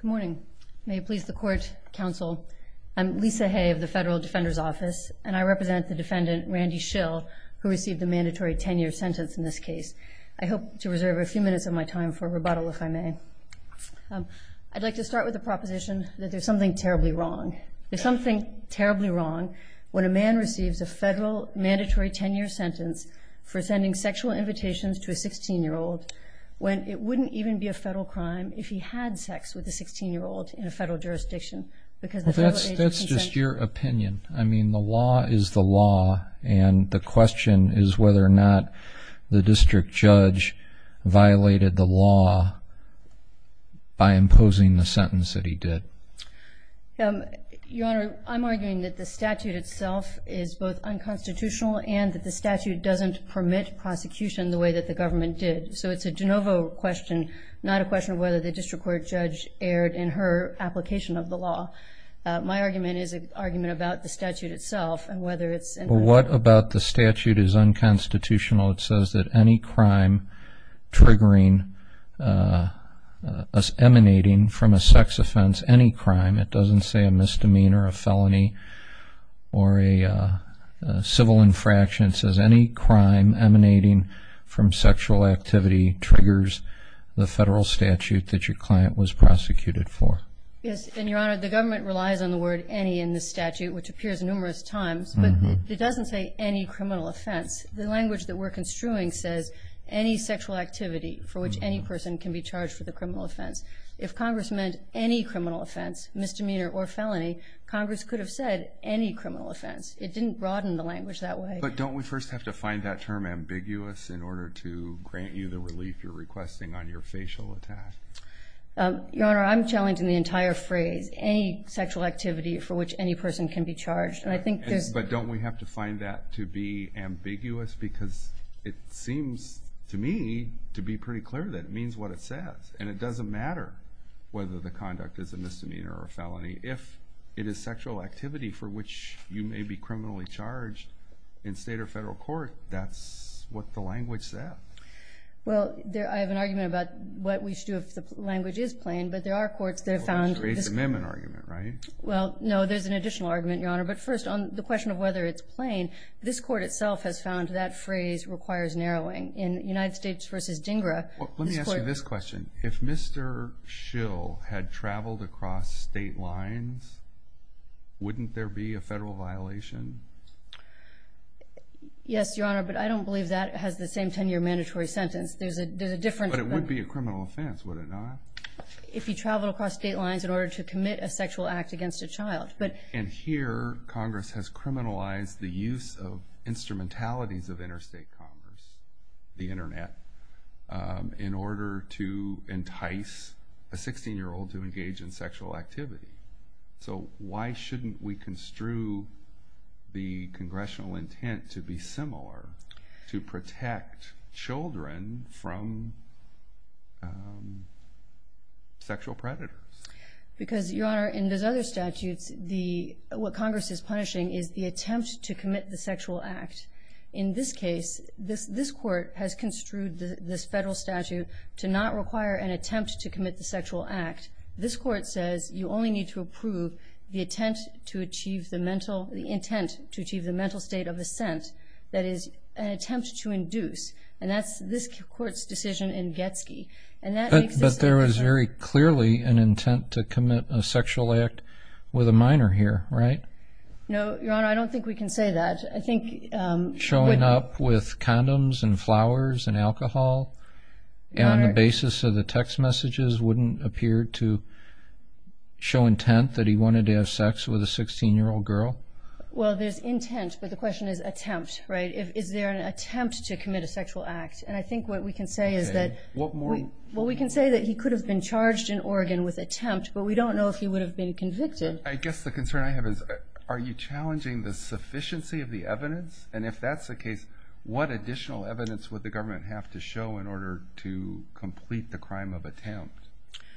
Good morning. May it please the Court, Counsel. I'm Lisa Hay of the Federal Defender's Office, and I represent the defendant, Randy Shill, who received a mandatory 10-year sentence in this case. I hope to reserve a few minutes of my time for rebuttal, if I may. I'd like to start with the proposition that there's something terribly wrong. There's something terribly wrong when a man receives a federal mandatory 10-year sentence for sending sexual invitations to a 16-year-old when it wouldn't even be a federal crime if he had sex with a 16-year-old in a federal jurisdiction because the federal agency consents to it. That's just your opinion. I mean, the law is the law, and the question is whether or not the district judge violated the law by imposing the sentence that he did. Your Honor, I'm arguing that the statute itself is both unconstitutional and that the statute doesn't permit prosecution the way that the government did. So it's a de novo question, not a question of whether the district court judge erred in her application of the law. My argument is an argument about the statute itself and whether it's— Well, what about the statute is unconstitutional? It says that any crime triggering, emanating from a sex offense, any crime, it doesn't say a misdemeanor, a felony, or a civil infraction. It says any crime emanating from sexual activity triggers the federal statute that your client was prosecuted for. Yes, and, Your Honor, the government relies on the word any in the statute, which appears numerous times, but it doesn't say any criminal offense. The language that we're construing says any sexual activity for which any person can be charged for the criminal offense. If Congress meant any criminal offense, misdemeanor or felony, Congress could have said any criminal offense. It didn't broaden the language that way. But don't we first have to find that term ambiguous in order to grant you the relief you're requesting on your facial attack? Your Honor, I'm challenging the entire phrase, any sexual activity for which any person can be charged. But don't we have to find that to be ambiguous? Because it seems to me to be pretty clear that it means what it says, and it doesn't matter whether the conduct is a misdemeanor or felony. If it is sexual activity for which you may be criminally charged in state or federal court, that's what the language said. Well, I have an argument about what we should do if the language is plain. But there are courts that have found this. Well, that creates an amendment argument, right? Well, no, there's an additional argument, Your Honor. But first, on the question of whether it's plain, this court itself has found that phrase requires narrowing. In United States v. DINGRA, this court— Wouldn't there be a federal violation? Yes, Your Honor, but I don't believe that has the same 10-year mandatory sentence. There's a difference. But it would be a criminal offense, would it not? If you travel across state lines in order to commit a sexual act against a child. And here, Congress has criminalized the use of instrumentalities of interstate commerce, the Internet, in order to entice a 16-year-old to engage in sexual activity. So why shouldn't we construe the congressional intent to be similar, to protect children from sexual predators? Because, Your Honor, in those other statutes, what Congress is punishing is the attempt to commit the sexual act. In this case, this court has construed this federal statute to not require an attempt to commit the sexual act. This court says you only need to approve the intent to achieve the mental state of assent, that is, an attempt to induce. And that's this court's decision in Getzky. But there is very clearly an intent to commit a sexual act with a minor here, right? No, Your Honor, I don't think we can say that. Showing up with condoms and flowers and alcohol on the basis of the text messages wouldn't appear to show intent that he wanted to have sex with a 16-year-old girl? Well, there's intent, but the question is attempt, right? Is there an attempt to commit a sexual act? And I think what we can say is that he could have been charged in Oregon with attempt, but we don't know if he would have been convicted. I guess the concern I have is are you challenging the sufficiency of the evidence? And if that's the case, what additional evidence would the government have to show in order to complete the crime of attempt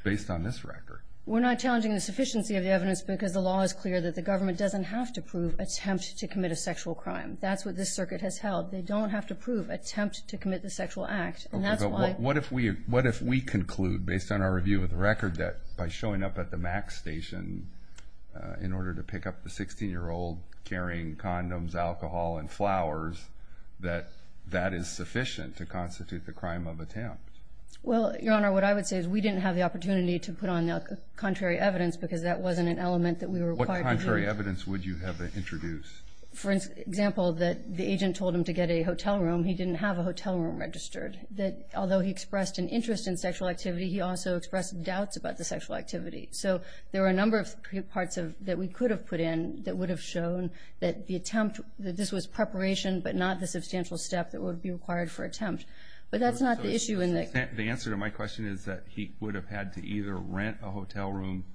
based on this record? We're not challenging the sufficiency of the evidence because the law is clear that the government doesn't have to prove attempt to commit a sexual crime. That's what this circuit has held. They don't have to prove attempt to commit the sexual act. What if we conclude, based on our review of the record, that by showing up at the MAC station in order to pick up the 16-year-old carrying condoms, alcohol, and flowers, that that is sufficient to constitute the crime of attempt? Well, Your Honor, what I would say is we didn't have the opportunity to put on the contrary evidence because that wasn't an element that we were required to do. What contrary evidence would you have to introduce? For example, that the agent told him to get a hotel room. He didn't have a hotel room registered. Although he expressed an interest in sexual activity, he also expressed doubts about the sexual activity. So there were a number of parts that we could have put in that would have shown that the attempt, that this was preparation but not the substantial step that would be required for attempt. But that's not the issue. The answer to my question is that he would have had to either rent a hotel room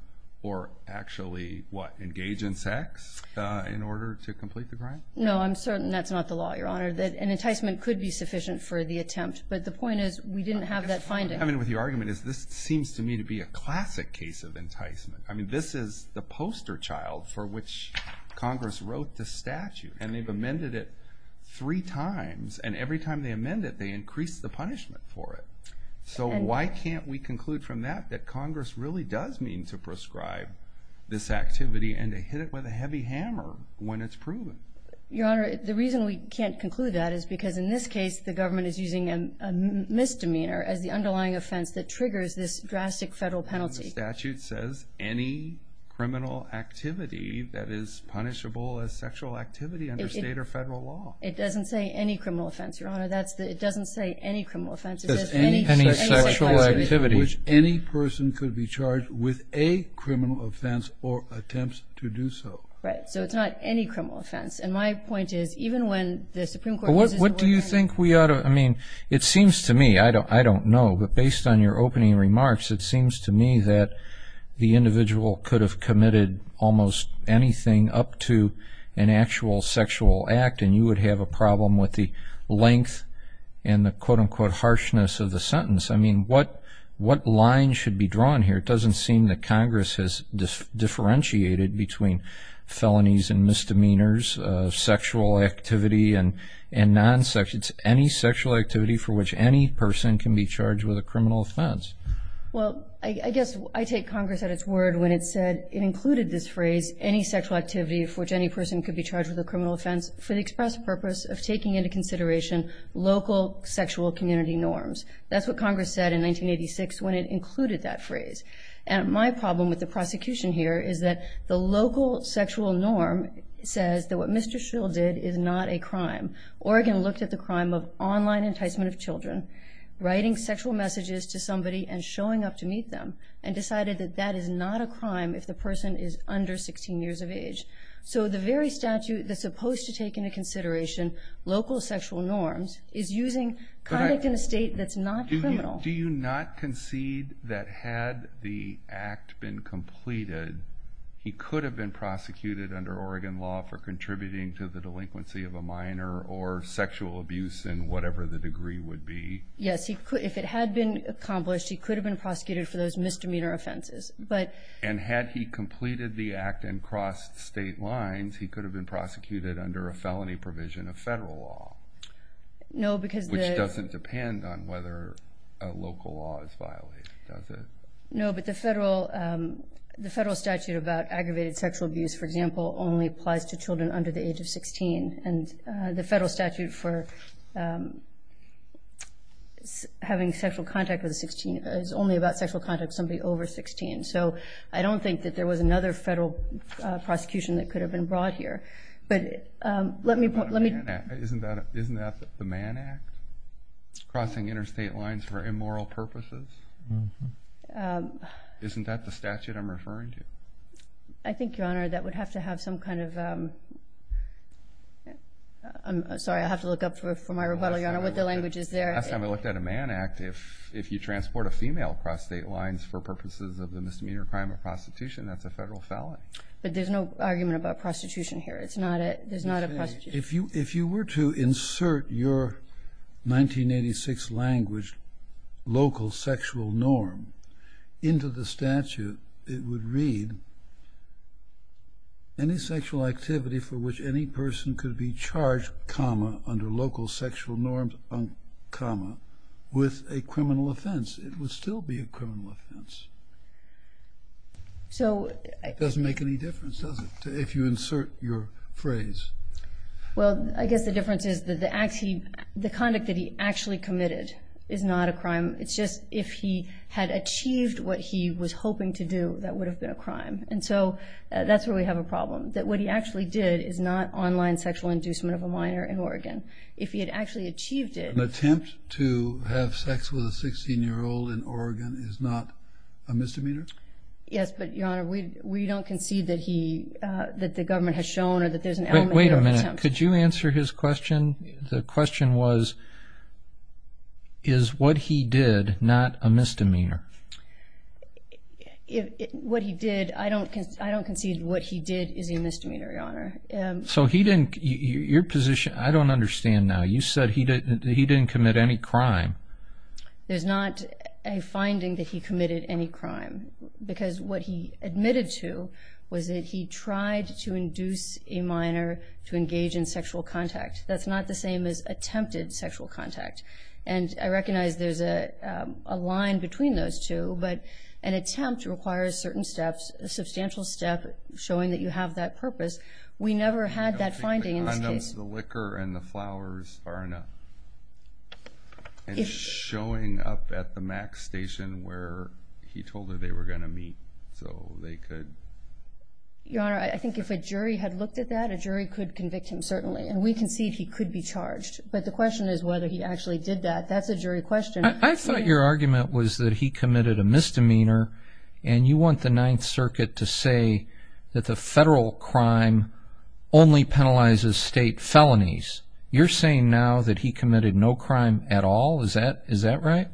or actually, what, engage in sex in order to complete the crime? No, I'm certain that's not the law, Your Honor. An enticement could be sufficient for the attempt, but the point is we didn't have that finding. I guess what I'm coming with your argument is this seems to me to be a classic case of enticement. I mean, this is the poster child for which Congress wrote the statute, and they've amended it three times, and every time they amend it, they increase the punishment for it. So why can't we conclude from that that Congress really does mean to prescribe this activity and to hit it with a heavy hammer when it's proven? Your Honor, the reason we can't conclude that is because in this case, the government is using a misdemeanor as the underlying offense that triggers this drastic federal penalty. The statute says any criminal activity that is punishable as sexual activity under state or federal law. It doesn't say any criminal offense, Your Honor. It doesn't say any criminal offense. It says any sexual activity which any person could be charged with a criminal offense or attempts to do so. Right. So it's not any criminal offense. And my point is even when the Supreme Court uses the word... What do you think we ought to – I mean, it seems to me, I don't know, but based on your opening remarks, it seems to me that the individual could have committed almost anything up to an actual sexual act, and you would have a problem with the length and the quote-unquote harshness of the sentence. I mean, what line should be drawn here? It doesn't seem that Congress has differentiated between felonies and misdemeanors, sexual activity and non-sexual. It's any sexual activity for which any person can be charged with a criminal offense. Well, I guess I take Congress at its word when it said it included this phrase, any sexual activity for which any person could be charged with a criminal offense, for the express purpose of taking into consideration local sexual community norms. That's what Congress said in 1986 when it included that phrase. And my problem with the prosecution here is that the local sexual norm says that what Mr. Schill did is not a crime. Oregon looked at the crime of online enticement of children, writing sexual messages to somebody and showing up to meet them, and decided that that is not a crime if the person is under 16 years of age. So the very statute that's supposed to take into consideration local sexual norms is using conduct in a state that's not criminal. Do you not concede that had the act been completed, he could have been prosecuted under Oregon law for contributing to the delinquency of a minor or sexual abuse in whatever the degree would be? Yes, if it had been accomplished, he could have been prosecuted for those misdemeanor offenses. And had he completed the act and crossed state lines, he could have been prosecuted under a felony provision of federal law, which doesn't depend on whether a local law is violated, does it? No, but the federal statute about aggravated sexual abuse, for example, only applies to children under the age of 16. And the federal statute for having sexual contact with 16 is only about sexual contact with somebody over 16. So I don't think that there was another federal prosecution that could have been brought here. Isn't that the Mann Act, crossing interstate lines for immoral purposes? Isn't that the statute I'm referring to? I think, Your Honor, that would have to have some kind of – I'm sorry, I'll have to look up for my rebuttal, Your Honor, what the language is there. Last time we looked at a Mann Act, if you transport a female across state lines for purposes of the misdemeanor crime of prostitution, that's a federal felony. But there's no argument about prostitution here. There's not a prostitution. If you were to insert your 1986 language, local sexual norm, into the statute, it would read, any sexual activity for which any person could be charged, comma, under local sexual norms, comma, with a criminal offense, it would still be a criminal offense. It doesn't make any difference, does it, if you insert your phrase? Well, I guess the difference is that the conduct that he actually committed is not a crime. It's just if he had achieved what he was hoping to do, that would have been a crime. And so that's where we have a problem, that what he actually did is not online sexual inducement of a minor in Oregon. If he had actually achieved it – An attempt to have sex with a 16-year-old in Oregon is not a misdemeanor? Yes, but, Your Honor, we don't concede that the government has shown or that there's an element of attempt. Wait a minute. Could you answer his question? The question was, is what he did not a misdemeanor? What he did – I don't concede what he did is a misdemeanor, Your Honor. So he didn't – your position – I don't understand now. You said he didn't commit any crime. There's not a finding that he committed any crime, because what he admitted to was that he tried to induce a minor to engage in sexual contact. That's not the same as attempted sexual contact. And I recognize there's a line between those two, but an attempt requires certain steps, a substantial step, showing that you have that purpose. We never had that finding in this case. The liquor and the flowers are enough. And showing up at the MAC station where he told her they were going to meet so they could – Your Honor, I think if a jury had looked at that, a jury could convict him, certainly. And we concede he could be charged. But the question is whether he actually did that. That's a jury question. I thought your argument was that he committed a misdemeanor, and you want the Ninth Circuit to say that the federal crime only penalizes state felonies. You're saying now that he committed no crime at all? Is that right?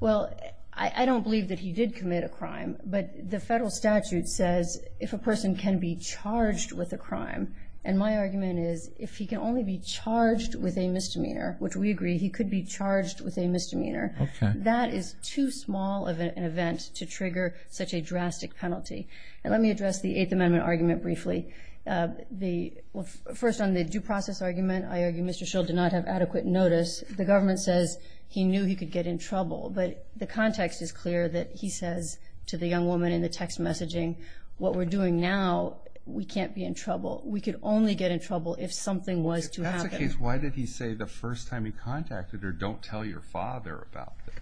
Well, I don't believe that he did commit a crime, but the federal statute says if a person can be charged with a crime, and my argument is if he can only be charged with a misdemeanor, which we agree, he could be charged with a misdemeanor. That is too small of an event to trigger such a drastic penalty. And let me address the Eighth Amendment argument briefly. First, on the due process argument, I argue Mr. Schill did not have adequate notice. The government says he knew he could get in trouble, but the context is clear that he says to the young woman in the text messaging, what we're doing now, we can't be in trouble. We could only get in trouble if something was to happen. If that's the case, why did he say the first time he contacted her, don't tell your father about this?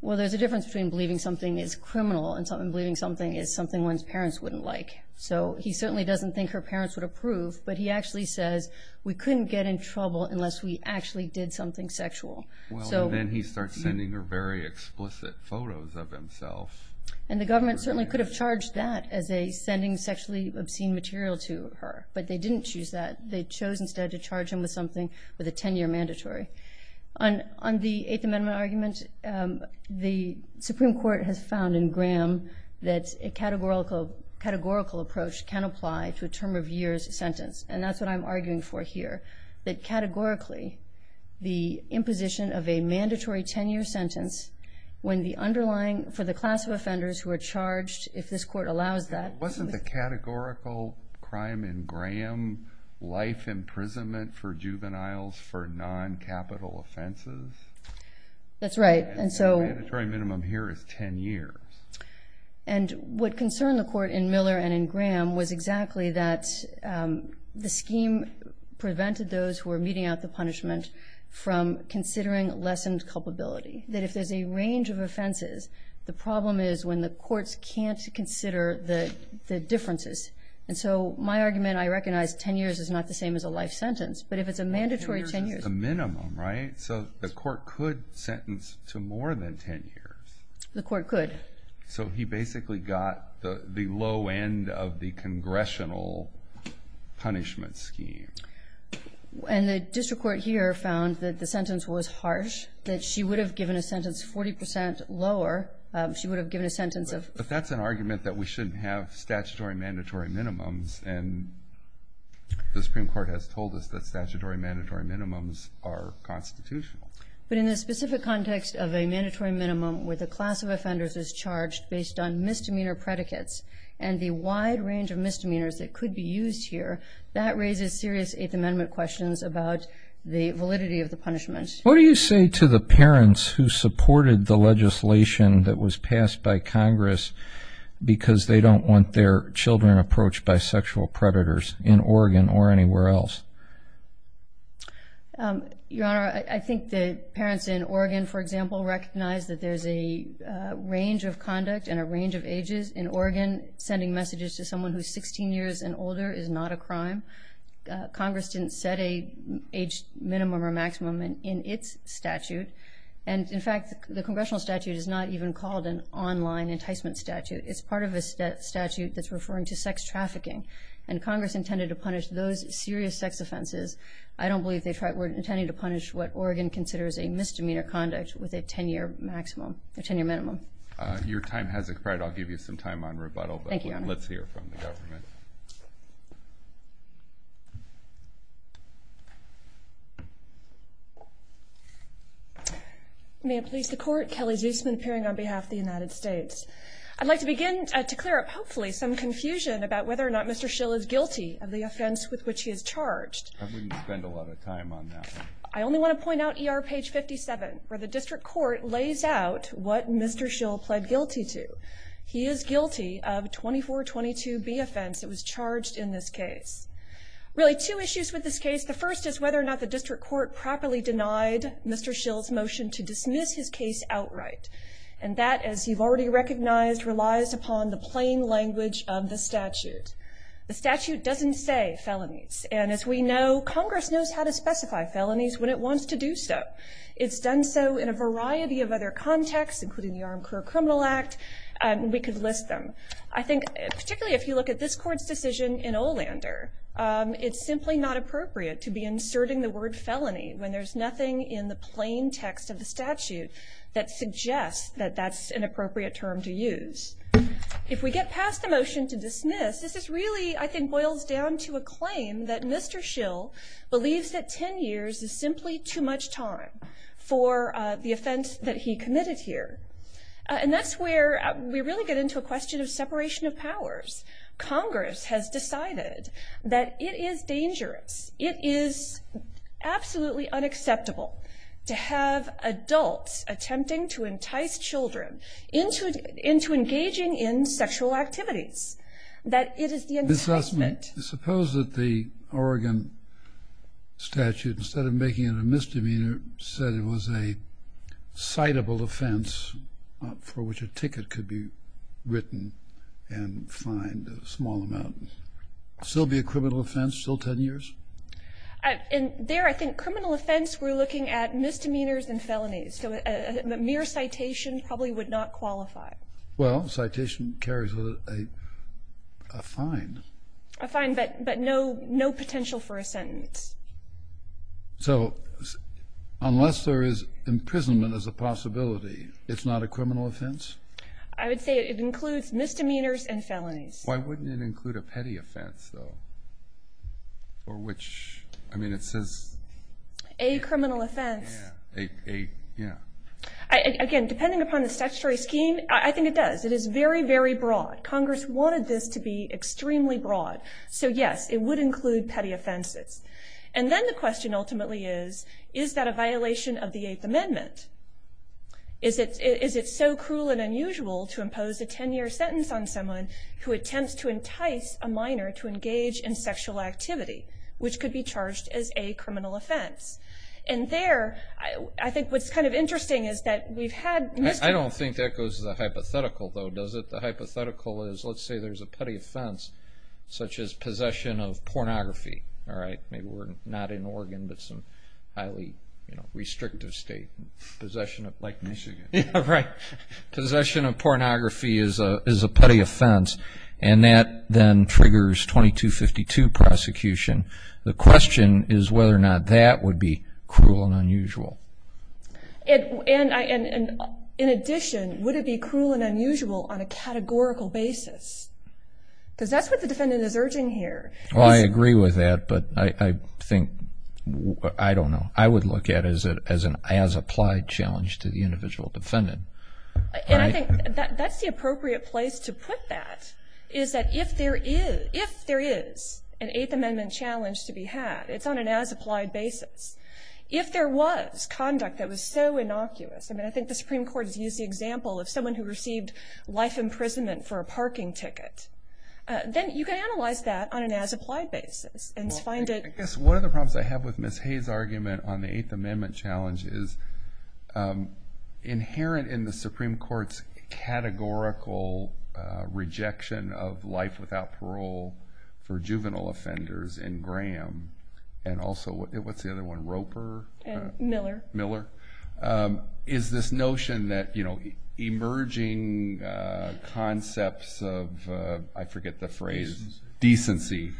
Well, there's a difference between believing something is criminal and believing something is something one's parents wouldn't like. So he certainly doesn't think her parents would approve, but he actually says we couldn't get in trouble unless we actually did something sexual. Then he starts sending her very explicit photos of himself. And the government certainly could have charged that as a sending sexually obscene material to her, but they didn't choose that. They chose instead to charge him with something with a 10-year mandatory. On the Eighth Amendment argument, the Supreme Court has found in Graham that a categorical approach can apply to a term of years sentence, and that's what I'm arguing for here, that categorically the imposition of a mandatory 10-year sentence for the class of offenders who are charged, if this Court allows that. Wasn't the categorical crime in Graham life imprisonment for juveniles for non-capital offenses? That's right. And the mandatory minimum here is 10 years. And what concerned the Court in Miller and in Graham was exactly that the scheme prevented those who were meeting out the punishment from considering lessened culpability, that if there's a range of offenses, the problem is when the courts can't consider the differences. And so my argument, I recognize 10 years is not the same as a life sentence, but if it's a mandatory 10 years. A minimum, right? So the Court could sentence to more than 10 years. The Court could. So he basically got the low end of the congressional punishment scheme. And the district court here found that the sentence was harsh, that she would have given a sentence 40 percent lower. She would have given a sentence of. But that's an argument that we shouldn't have statutory mandatory minimums. And the Supreme Court has told us that statutory mandatory minimums are constitutional. But in the specific context of a mandatory minimum where the class of offenders is charged based on misdemeanor predicates and the wide range of misdemeanors that could be used here, that raises serious Eighth Amendment questions about the validity of the punishment. What do you say to the parents who supported the legislation that was passed by Congress because they don't want their children approached by sexual predators in Oregon or anywhere else? Your Honor, I think the parents in Oregon, for example, recognize that there's a range of conduct and a range of ages in Oregon. Sending messages to someone who's 16 years and older is not a crime. Congress didn't set an age minimum or maximum in its statute. And, in fact, the congressional statute is not even called an online enticement statute. It's part of a statute that's referring to sex trafficking. And Congress intended to punish those serious sex offenses. I don't believe they were intending to punish what Oregon considers a misdemeanor conduct with a 10-year minimum. Your time has expired. Thank you, Your Honor. Let's hear from the government. May it please the Court, Kelly Zusman, appearing on behalf of the United States. I'd like to begin to clear up, hopefully, some confusion about whether or not Mr. Schill is guilty of the offense with which he is charged. I wouldn't spend a lot of time on that. I only want to point out ER page 57, where the district court lays out what Mr. Schill pled guilty to. He is guilty of 2422B offense that was charged in this case. Really, two issues with this case. The first is whether or not the district court properly denied Mr. Schill's motion to dismiss his case outright. And that, as you've already recognized, relies upon the plain language of the statute. The statute doesn't say felonies. And, as we know, Congress knows how to specify felonies when it wants to do so. It's done so in a variety of other contexts, including the Armed Career Criminal Act. We could list them. I think, particularly if you look at this Court's decision in Olander, it's simply not appropriate to be inserting the word felony when there's nothing in the plain text of the statute that suggests that that's an appropriate term to use. If we get past the motion to dismiss, this is really, I think, boils down to a claim that Mr. Schill believes that 10 years is simply too much time for the offense that he committed here. And that's where we really get into a question of separation of powers. Congress has decided that it is dangerous, it is absolutely unacceptable to have adults attempting to entice children into engaging in sexual activities. That it is the enticement. Suppose that the Oregon statute, instead of making it a misdemeanor, said it was a citable offense for which a ticket could be written and fined a small amount. Still be a criminal offense, still 10 years? There, I think, criminal offense, we're looking at misdemeanors and felonies. So a mere citation probably would not qualify. Well, citation carries with it a fine. A fine, but no potential for a sentence. So unless there is imprisonment as a possibility, it's not a criminal offense? I would say it includes misdemeanors and felonies. Why wouldn't it include a petty offense, though? For which, I mean, it says... A criminal offense. A, yeah. Again, depending upon the statutory scheme, I think it does. It is very, very broad. Congress wanted this to be extremely broad. So, yes, it would include petty offenses. And then the question ultimately is, is that a violation of the Eighth Amendment? Is it so cruel and unusual to impose a 10-year sentence on someone who attempts to entice a minor to engage in sexual activity, which could be charged as a criminal offense? And there, I think what's kind of interesting is that we've had... I don't think that goes to the hypothetical, though, does it? The hypothetical is, let's say there's a petty offense, such as possession of pornography, all right? Maybe we're not in Oregon, but some highly restrictive state. Possession of, like, Michigan. Yeah, right. Possession of pornography is a petty offense, and that then triggers 2252 prosecution. The question is whether or not that would be cruel and unusual. And in addition, would it be cruel and unusual on a categorical basis? Because that's what the defendant is urging here. Well, I agree with that, but I think, I don't know. I would look at it as an as-applied challenge to the individual defendant. And I think that's the appropriate place to put that, is that if there is an Eighth Amendment challenge to be had, it's on an as-applied basis. If there was conduct that was so innocuous, and I think the Supreme Court has used the example of someone who received life imprisonment for a parking ticket, then you can analyze that on an as-applied basis and find it. Well, I guess one of the problems I have with Ms. Hayes' argument on the Eighth Amendment challenge is, inherent in the Supreme Court's categorical rejection of life without parole for juvenile offenders in Graham and also, what's the other one, Roper? Miller. Miller, is this notion that emerging concepts of, I forget the phrase. Decency. Decency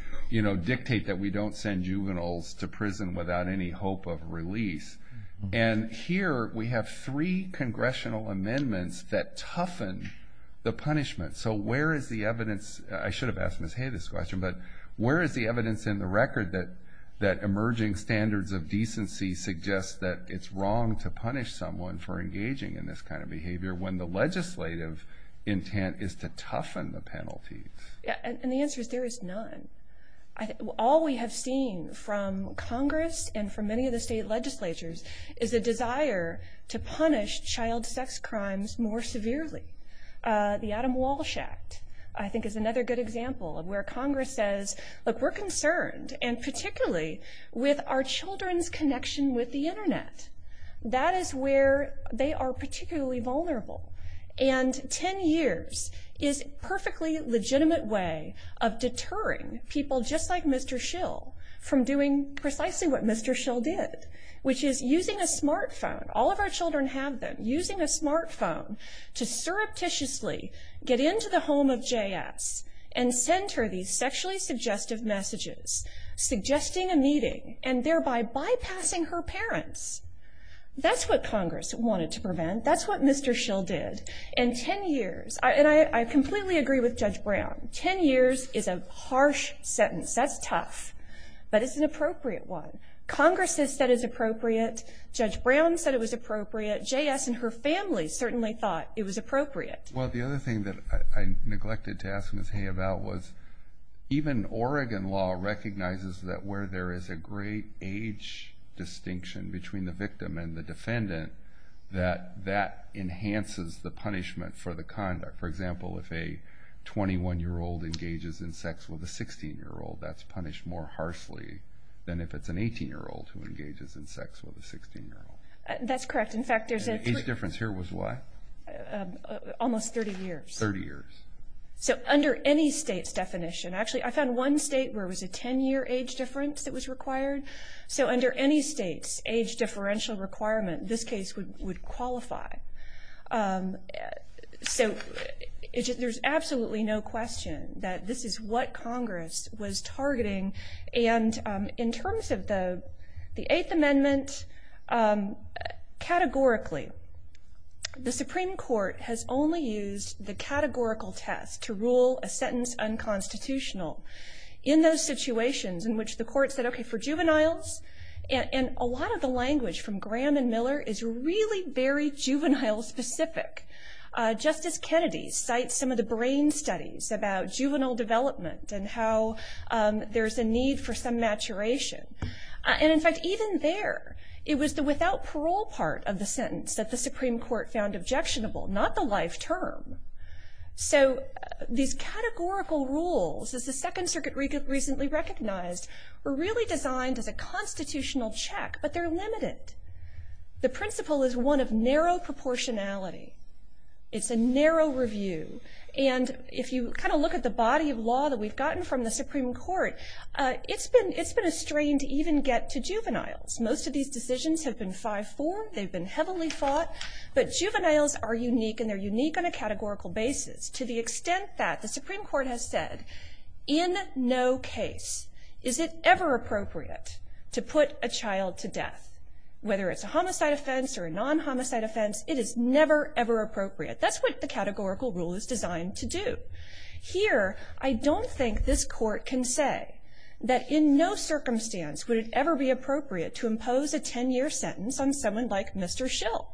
dictate that we don't send juveniles to prison without any hope of release. And here we have three congressional amendments that toughen the punishment. So where is the evidence? I should have asked Ms. Hayes this question, but where is the evidence in the record that emerging standards of decency suggests that it's wrong to punish someone for engaging in this kind of behavior when the legislative intent is to toughen the penalty? And the answer is there is none. All we have seen from Congress and from many of the state legislatures is a desire to punish child sex crimes more severely. The Adam Walsh Act, I think, is another good example of where Congress says, look, we're concerned, and particularly with our children's connection with the Internet. That is where they are particularly vulnerable. And 10 years is a perfectly legitimate way of deterring people just like Mr. Schill from doing precisely what Mr. Schill did, which is using a smartphone. All of our children have them. Using a smartphone to surreptitiously get into the home of JS and send her these sexually suggestive messages, suggesting a meeting, and thereby bypassing her parents. That's what Congress wanted to prevent. That's what Mr. Schill did. And 10 years, and I completely agree with Judge Brown, 10 years is a harsh sentence. That's tough, but it's an appropriate one. Congress has said it's appropriate. Judge Brown said it was appropriate. JS and her family certainly thought it was appropriate. Well, the other thing that I neglected to ask Ms. Hay about was even Oregon law recognizes that where there is a great age distinction between the victim and the defendant, that that enhances the punishment for the conduct. For example, if a 21-year-old engages in sex with a 16-year-old, that's punished more harshly than if it's an 18-year-old who engages in sex with a 16-year-old. That's correct. In fact, there's an age difference here was what? Almost 30 years. 30 years. So under any state's definition, actually I found one state where it was a 10-year age difference that was required. So under any state's age differential requirement, this case would qualify. So there's absolutely no question that this is what Congress was targeting. And in terms of the Eighth Amendment, categorically, the Supreme Court has only used the categorical test to rule a sentence unconstitutional. In those situations in which the court said, okay, for juveniles, and a lot of the language from Graham and Miller is really very juvenile specific. Justice Kennedy cites some of the brain studies about juvenile development and how there's a need for some maturation. And, in fact, even there, it was the without parole part of the sentence that the Supreme Court found objectionable, not the life term. So these categorical rules, as the Second Circuit recently recognized, were really designed as a constitutional check, but they're limited. The principle is one of narrow proportionality. It's a narrow review. And if you kind of look at the body of law that we've gotten from the Supreme Court, it's been a strain to even get to juveniles. Most of these decisions have been 5-4. They've been heavily fought. But juveniles are unique, and they're unique on a categorical basis to the extent that the Supreme Court has said, in no case is it ever appropriate to put a child to death. Whether it's a homicide offense or a non-homicide offense, it is never, ever appropriate. That's what the categorical rule is designed to do. Here, I don't think this court can say that in no circumstance would it ever be appropriate to impose a 10-year sentence on someone like Mr. Schill.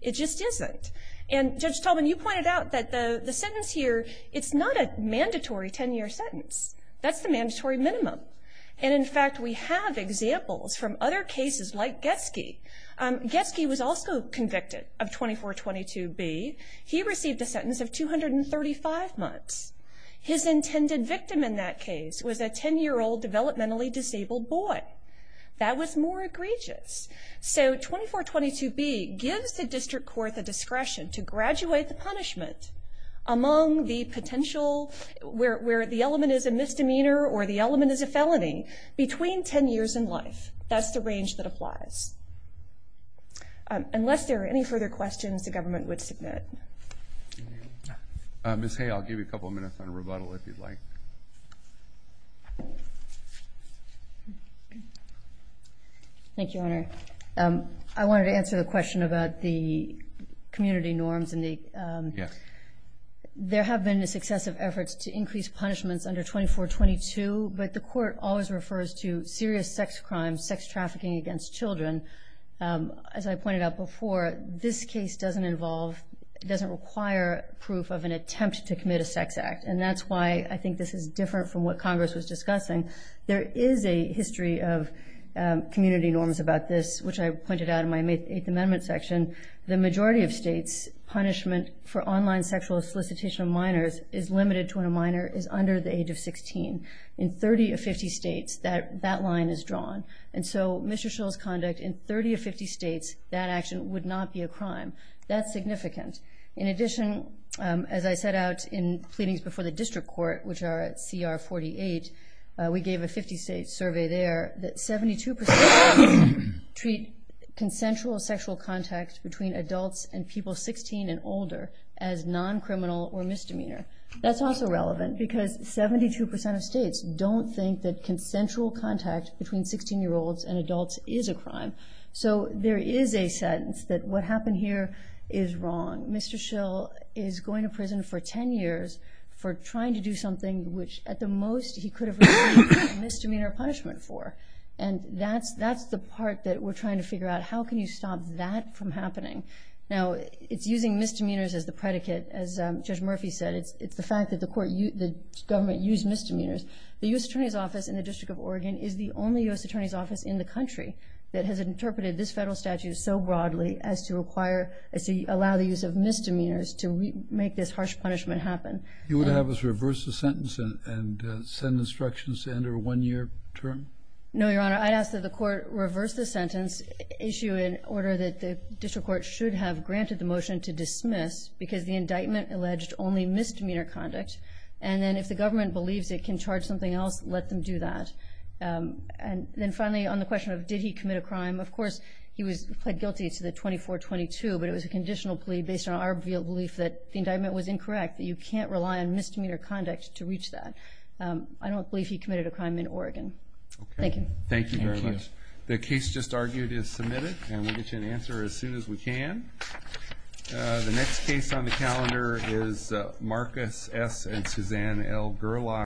It just isn't. And Judge Tolman, you pointed out that the sentence here, it's not a mandatory 10-year sentence. That's the mandatory minimum. And, in fact, we have examples from other cases like Getsky. Getsky was also convicted of 2422B. He received a sentence of 235 months. His intended victim in that case was a 10-year-old developmentally disabled boy. That was more egregious. So 2422B gives the district court the discretion to graduate the punishment among the potential where the element is a misdemeanor or the element is a felony between 10 years and life. That's the range that applies. Unless there are any further questions, the government would submit. Ms. Hay, I'll give you a couple of minutes on rebuttal if you'd like. Thank you, Your Honor. I wanted to answer the question about the community norms. Yes. There have been successive efforts to increase punishments under 2422, but the court always refers to serious sex crimes, sex trafficking against children. As I pointed out before, this case doesn't involve, doesn't require proof of an attempt to commit a sex act, and that's why I think this is different from what Congress was discussing. There is a history of community norms about this, which I pointed out in my Eighth Amendment section. The majority of states' punishment for online sexual solicitation of minors is limited to when a minor is under the age of 16. In 30 of 50 states, that line is drawn. And so Mr. Schill's conduct in 30 of 50 states, that action would not be a crime. That's significant. In addition, as I set out in pleadings before the district court, which are at CR 48, we gave a 50-state survey there that 72 percent of states treat consensual sexual contact between adults and people 16 and older as non-criminal or misdemeanor. That's also relevant because 72 percent of states don't think that consensual contact between 16-year-olds and adults is a crime. So there is a sense that what happened here is wrong. Mr. Schill is going to prison for 10 years for trying to do something which, at the most, he could have received misdemeanor punishment for. And that's the part that we're trying to figure out, how can you stop that from happening? Now, it's using misdemeanors as the predicate. As Judge Murphy said, it's the fact that the court used the government used misdemeanors. The U.S. Attorney's Office in the District of Oregon is the only U.S. Attorney's Office in the country that has interpreted this Federal statute so broadly as to require, as to allow the use of misdemeanors to make this harsh punishment happen. You would have us reverse the sentence and send instructions to enter a one-year term? No, Your Honor. I'd ask that the court reverse the sentence issue in order that the district court should have granted the motion to dismiss because the indictment alleged only misdemeanor conduct. And then if the government believes it can charge something else, let them do that. And then finally, on the question of did he commit a crime, of course he was pled guilty to the 2422, but it was a conditional plea based on our belief that the indictment was incorrect, that you can't rely on misdemeanor conduct to reach that. I don't believe he committed a crime in Oregon. Thank you. Thank you very much. The case just argued is submitted, and we'll get you an answer as soon as we can. The next case on the calendar is Marcus S. and Suzanne L. Gerlach.